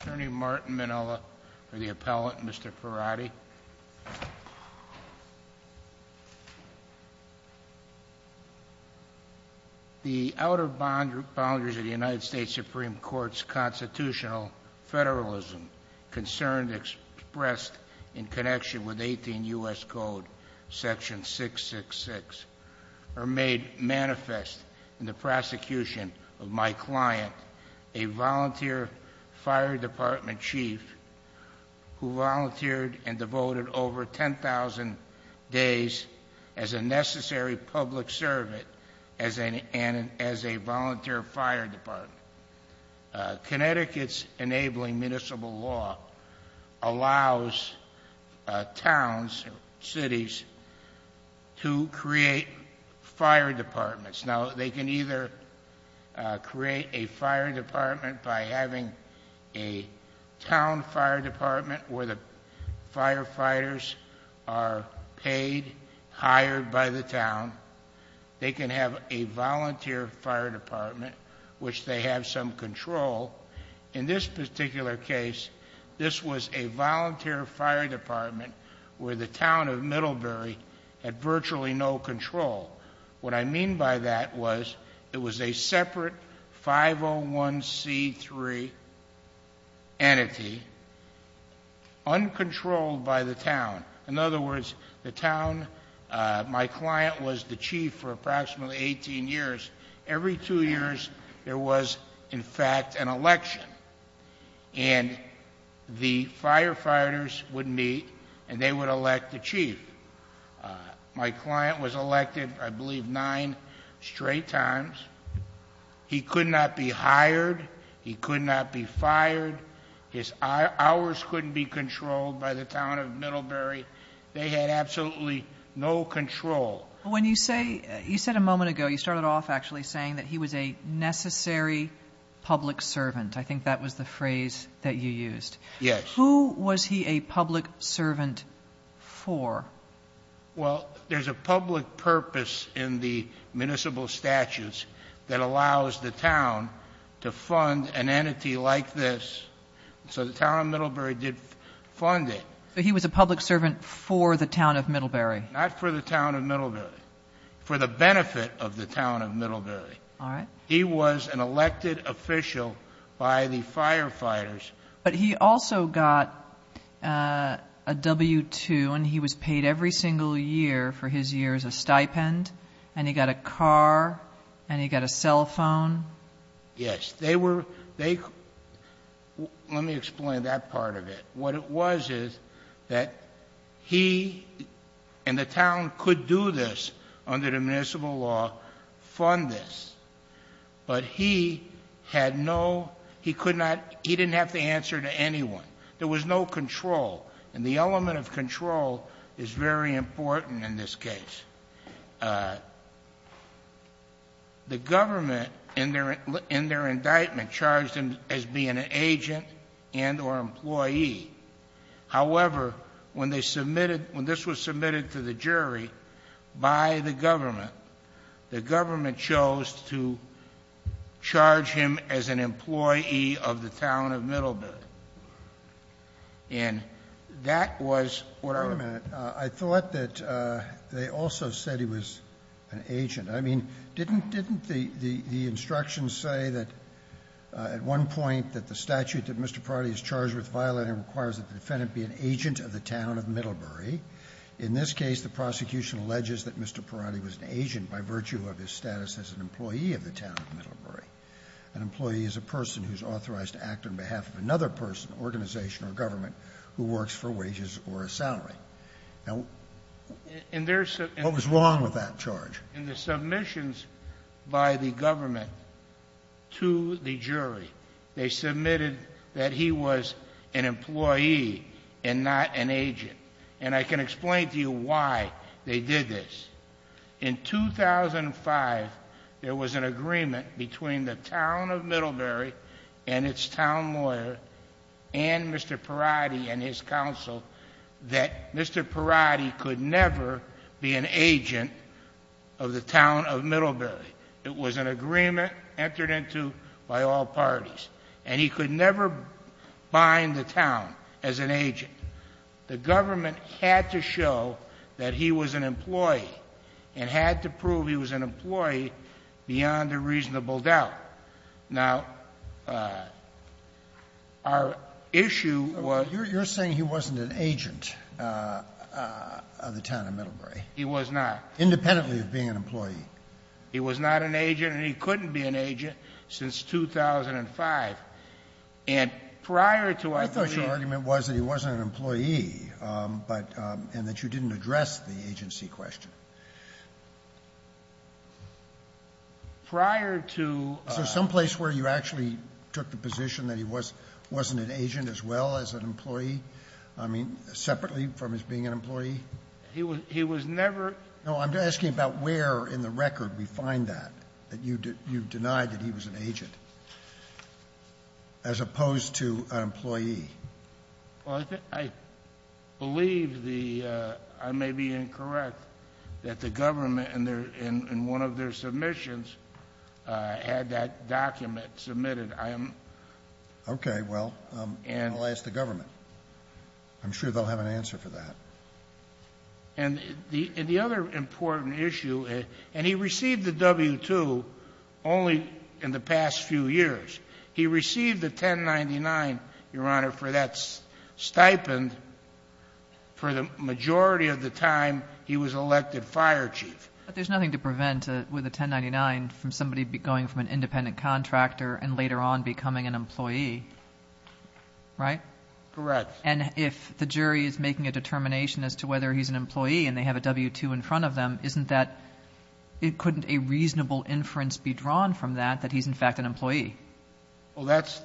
Attorney Martin Minnella for the appellant Mr. Farhadi. The outer boundaries of the United States Supreme Court's constitutional federalism concerned expressed in connection with 18 U.S. Code section 666 are made manifest in the prosecution of my client. A volunteer fire department chief who volunteered and devoted over 10,000 days as a necessary public servant as a volunteer fire department. Connecticut's enabling municipal law allows towns and cities to create fire departments. They can either create a fire department by having a town fire department where the firefighters are paid, hired by the town. They can have a volunteer fire department which they have some control. In this particular case, this was a volunteer fire department where the town of Middlebury had virtually no control. What I mean by that was it was a separate 501c3 entity uncontrolled by the town. In other words, the town, my client was the chief for approximately 18 years. Every two years there was in fact an election and the firefighters would meet and they would elect the chief. My client was elected I believe nine straight times. He could not be hired. He could not be fired. His hours couldn't be controlled by the town of Middlebury. They had absolutely no control. When you say, you said a moment ago, you started off actually saying that he was a necessary public servant. I think that was the phrase that you used. Yes. Who was he a public servant for? Well, there's a public purpose in the municipal statutes that allows the town to fund an entity like this. So the town of Middlebury did fund it. He was a public servant for the town of Middlebury. Not for the town of Middlebury. For the benefit of the town of Middlebury. He was an elected official by the firefighters. But he also got a W-2 and he was paid every single year for his years of stipend. And he got a car and he got a cell phone. Yes. They were, they, let me explain that part of it. What it was is that he and the town could do this under the municipal law, fund this. But he had no, he could not, he didn't have to answer to anyone. There was no control. And the element of control is very important in this case. The government, in their indictment, charged him as being an agent and or employee. However, when they submitted, when this was submitted to the jury by the government, the government decided to charge him as an employee of the town of Middlebury. And that was what I was going to say. Roberts. I thought that they also said he was an agent. I mean, didn't, didn't the, the instructions say that at one point that the statute that Mr. Parodi is charged with violating requires that the defendant be an agent of the town of Middlebury? In this case, the prosecution alleges that Mr. Parodi was an agent by virtue of his status as an employee of the town of Middlebury. An employee is a person who's authorized to act on behalf of another person, organization or government, who works for wages or a salary. Now, what was wrong with that charge? In the submissions by the government to the jury, they submitted that he was an employee and not an agent. And I can explain to you why they did this. In 2005, there was an agreement between the town of Middlebury and its town lawyer and Mr. Parodi and his counsel that Mr. Parodi could never be an agent of the town of Middlebury. It was an agreement entered into by all parties. And he could never bind the town as an agent. The government had to show that he was an employee and had to prove he was an employee beyond a reasonable doubt. Now, our issue was — You're saying he wasn't an agent of the town of Middlebury. He was not. Independently of being an employee. He was not an agent and he couldn't be an agent since 2005. And prior to our agreement — He was an employee, but — and that you didn't address the agency question. Prior to — Is there someplace where you actually took the position that he was — wasn't an agent as well as an employee? I mean, separately from his being an employee? He was — he was never — No. I'm asking about where in the record we find that, that you denied that he was an agent as opposed to an employee. Well, I believe the — I may be incorrect that the government in their — in one of their submissions had that document submitted. I am — Okay. Well, I'll ask the government. I'm sure they'll have an answer for that. And the other important issue — and he received the W-2 only in the past few years. He received a 1099, Your Honor, for that stipend for the majority of the time he was elected fire chief. But there's nothing to prevent with a 1099 from somebody going from an independent contractor and later on becoming an employee, right? Correct. And if the jury is making a determination as to whether he's an employee and they have a W-2 in front of them, isn't that — couldn't a reasonable inference be drawn from that that he's in fact an employee? Well, that's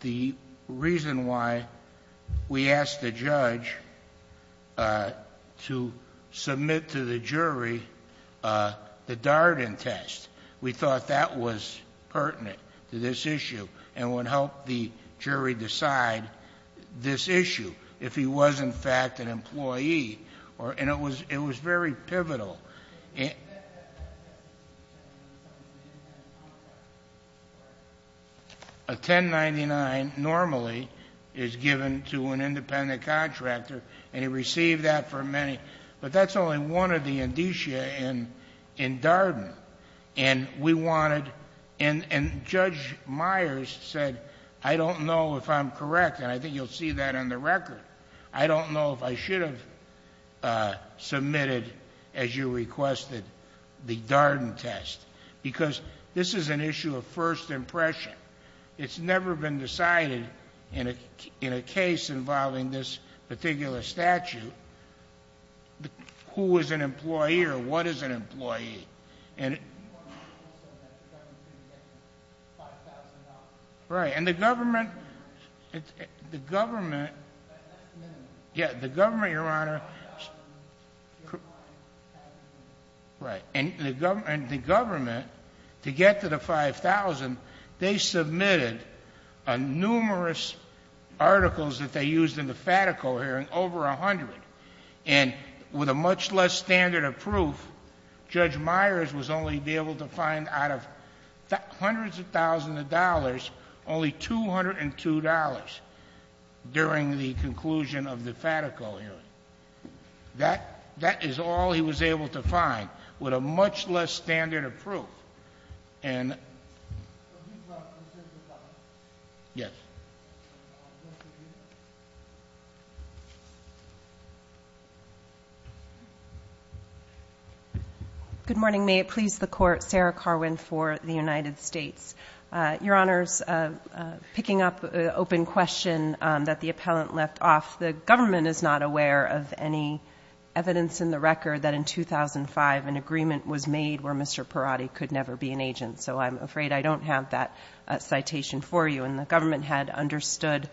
the reason why we asked the judge to submit to the jury the Darden test. We thought that was pertinent to this issue and would help the jury decide this issue And it was very pivotal. A 1099 normally is given to an independent contractor, and he received that for many — but that's only one of the indicia in Darden. And we wanted — and Judge Myers said, I don't know if I'm correct, and I think you'll see that on the record. I don't know if I should have submitted, as you requested, the Darden test, because this is an issue of first impression. It's never been decided in a case involving this particular statute who is an employee or what is an employee. And — He also said that the government didn't get $5,000. Right. And the government — The government — Yeah. The government, Your Honor — Right. And the government, to get to the $5,000, they submitted numerous articles that they used in the Fatico hearing, over a hundred. And with a much less standard of proof, Judge Myers was only able to find out of hundreds of thousands of dollars, only $202 during the conclusion of the Fatico hearing. That is all he was able to find, with a much less standard of proof. And — Yes. Thank you. Good morning. May it please the Court. Sarah Carwin for the United States. Your Honors, picking up an open question that the appellant left off, the government is not aware of any evidence in the record that in 2005 an agreement was made where Mr. Perotti could never be an agent. So I'm afraid I don't have that citation for you. And the government had understood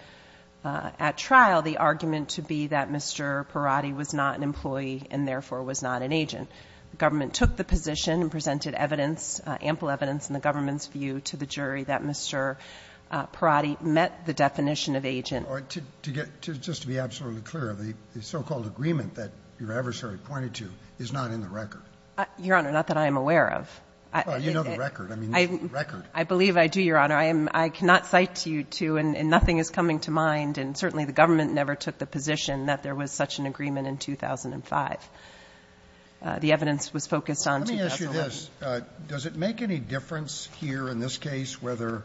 at trial the argument to be that Mr. Perotti was not an employee and therefore was not an agent. The government took the position and presented evidence, ample evidence, in the government's view to the jury that Mr. Perotti met the definition of agent. All right. To get — just to be absolutely clear, the so-called agreement that your adversary pointed to is not in the record? Your Honor, not that I am aware of. Well, you know the record. I mean, the record. I believe I do, Your Honor. I am — I cannot cite you to — and nothing is coming to mind, and certainly the government never took the position that there was such an agreement in 2005. The evidence was focused on 2011. Well, let me ask you this. Does it make any difference here in this case whether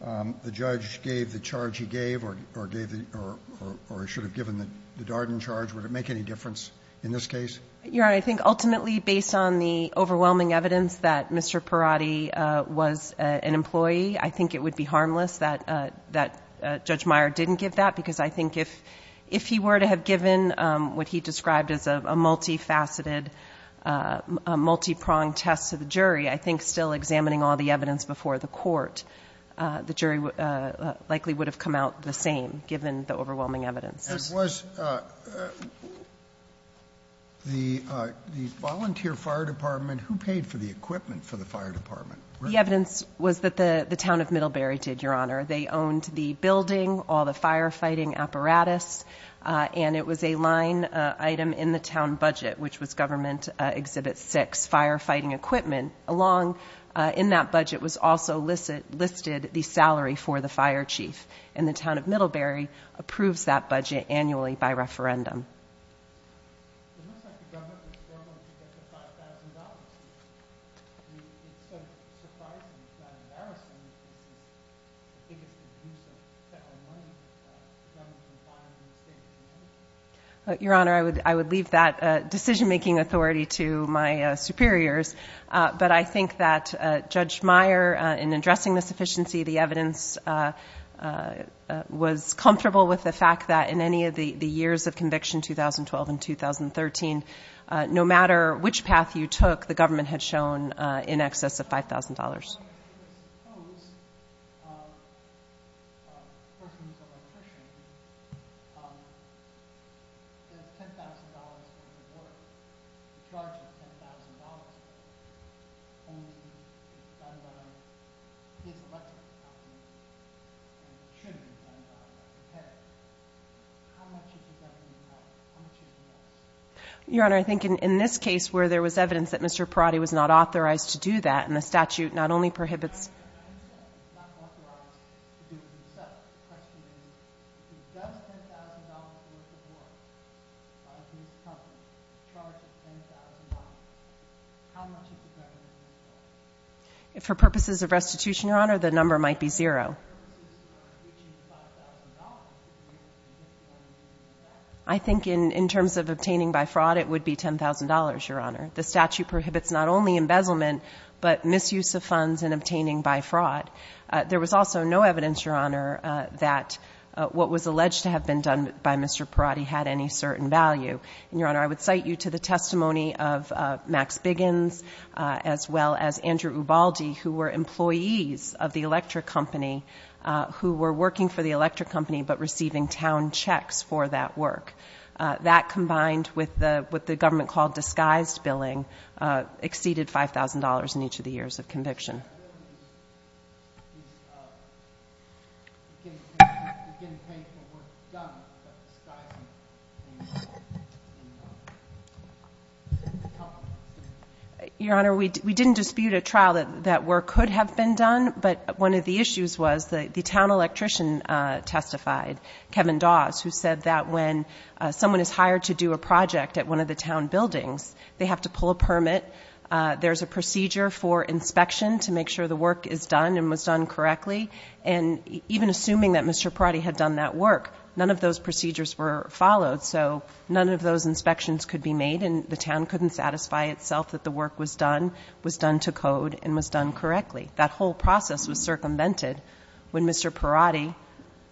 the judge gave the charge he gave or gave the — or should have given the Darden charge? Would it make any difference in this case? Your Honor, I think ultimately based on the overwhelming evidence that Mr. Perotti was an employee, I think it would be harmless that Judge Meyer didn't give that, because I think if he were to have given what he described as a multifaceted, a multipronged test to the jury, I think still examining all the evidence before the court, the jury likely would have come out the same, given the overwhelming evidence. And was the volunteer fire department — who paid for the equipment for the fire department? The evidence was that the town of Middlebury did, Your Honor. They owned the building, all the firefighting apparatus, and it was a line item in the town budget, which was government Exhibit 6, firefighting equipment. Along in that budget was also listed the salary for the fire chief, and the town of Middlebury approves that budget annually by referendum. Your Honor, I would leave that decision-making authority to my superiors, but I think that Judge Meyer, in addressing the sufficiency of the evidence, was comfortable with the fact that in any of the years of conviction, 2012 and 2013, no matter which path you took, the government had shown in excess of $5,000. Your Honor, I think in this case where there was evidence that Mr. Parati was not authorized to do that, and the statute not only prohibits — For purposes of restitution, Your Honor, the number might be zero. I think in terms of obtaining by fraud, it would be $10,000, Your Honor. The statute prohibits not only embezzlement, but misuse of funds in obtaining by fraud. There was also no evidence, Your Honor, that what was alleged to have been done by Mr. Parati had any certain value. Your Honor, I would cite you to the testimony of Max Biggins, as well as Andrew Ubaldi, who were employees of the electric company, who were working for the electric company but receiving town checks for that work. That combined with what the government called disguised billing exceeded $5,000 in each of the years of conviction. Your Honor, we didn't dispute a trial that work could have been done, but one of the issues was the town electrician testified, Kevin Dawes, who said that when someone is hired to do a project at one of the town buildings, they have to pull a permit, there's a procedure for inspection to make sure the work is done and was done correctly, and even assuming that Mr. Parati had done that work, none of those procedures were followed, so none of those inspections could be made and the town couldn't satisfy itself that the work was done, was done to code, and was done correctly. That whole process was circumvented when Mr. Parati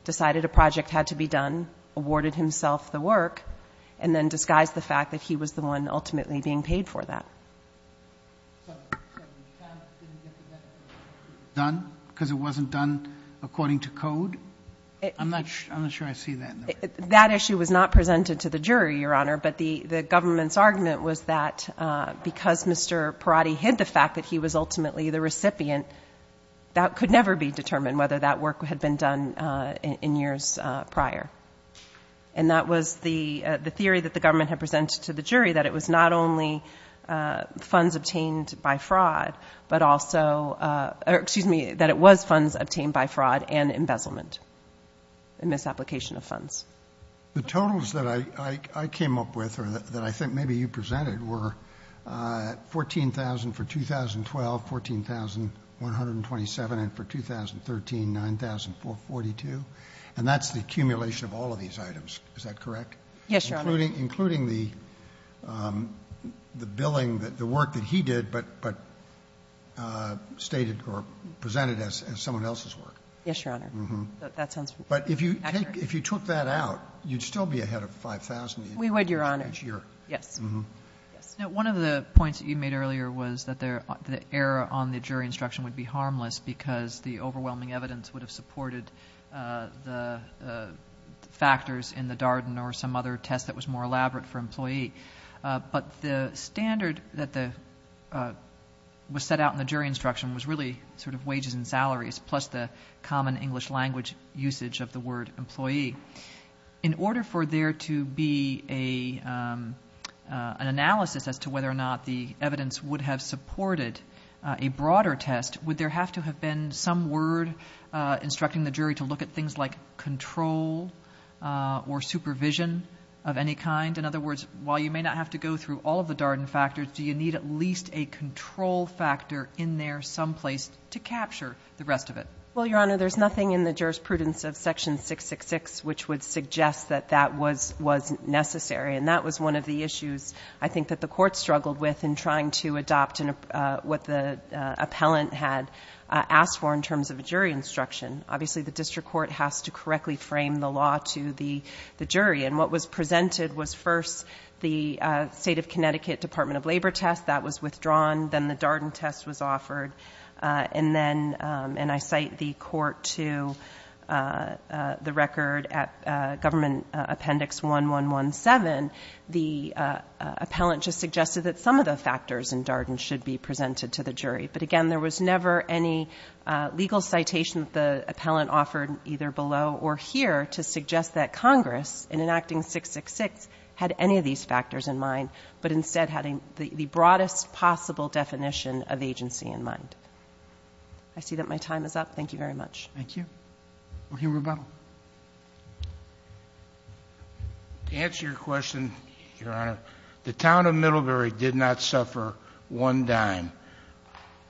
decided a project had to be done, awarded himself the work, and then disguised the fact that he was the one ultimately being paid for that. So the town didn't get the benefit of it being done because it wasn't done according to code? I'm not sure I see that in the record. That issue was not presented to the jury, Your Honor, but the government's argument was that because Mr. Parati hid the fact that he was ultimately the recipient, that could never be determined whether that work had been done in years prior. And that was the theory that the government had presented to the jury, that it was not only funds obtained by fraud, but also, excuse me, that it was funds obtained by fraud and embezzlement, a misapplication of funds. The totals that I came up with, or that I think maybe you presented, were 14,000 for 2012, 14,127, and for 2013, 9,442, and that's the accumulation of all of these items, is that correct? Yes, Your Honor. Including the billing, the work that he did, but stated or presented as someone else's work. Yes, Your Honor. But if you took that out, you'd still be ahead of 5,000 each year. We would, Your Honor, yes. One of the points that you made earlier was that the error on the jury instruction would be harmless because the overwhelming evidence would have supported the factors in the Darden or some other test that was more elaborate for employee, but the standard that was set out in the jury instruction was really sort of wages and salaries, plus the common English language usage of the word employee. In order for there to be an analysis as to whether or not the evidence would have supported a broader test, would there have to have been some word instructing the jury to look at things like control or supervision of any kind? In other words, while you may not have to go through all of the Darden factors, do you need at least a control factor in there someplace to capture the rest of it? Well, Your Honor, there's nothing in the jurisprudence of Section 666 which would suggest that that was necessary, and that was one of the issues I think that the court struggled with in trying to adopt what the appellant had asked for in terms of a jury instruction. Obviously, the district court has to correctly frame the law to the jury, and what was presented was first the State of Connecticut Department of Labor test. That was withdrawn. Then the Darden test was offered, and then, and I cite the court to the record at Government Appendix 1117, the appellant just suggested that some of the factors in Darden should be presented to the jury. But again, there was never any legal citation that the appellant offered either below or here to suggest that Congress, in enacting 666, had any of these factors in mind, but instead had the broadest possible definition of agency in mind. I see that my time is up. Thank you very much. Thank you. Okay. Rebuttal. To answer your question, Your Honor, the town of Middlebury did not suffer one dime.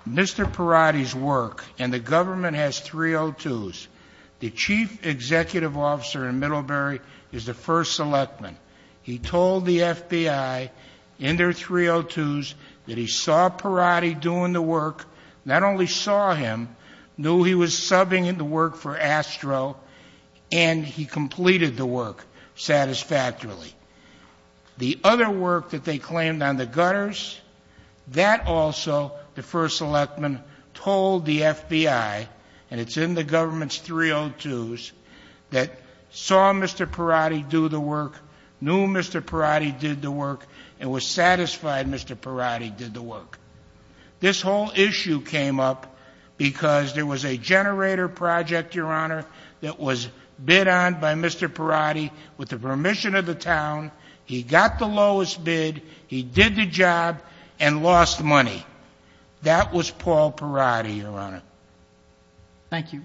Mr. Perotti's work, and the government has 302s, the chief executive officer in Middlebury is the first selectman. He told the FBI in their 302s that he saw Perotti doing the work, not only saw him, knew he was subbing in the work for Astro, and he completed the work satisfactorily. The other work that they claimed on the gutters, that also the first selectman told the FBI, and it's in the government's 302s, that saw Mr. Perotti do the work, knew Mr. Perotti did the work, and was satisfied Mr. Perotti did the work. This whole issue came up because there was a generator project, Your Honor, that was bid on by Mr. Perotti with the permission of the town. He got the lowest bid. He did the job and lost money. That was Paul Perotti, Your Honor. Thank you.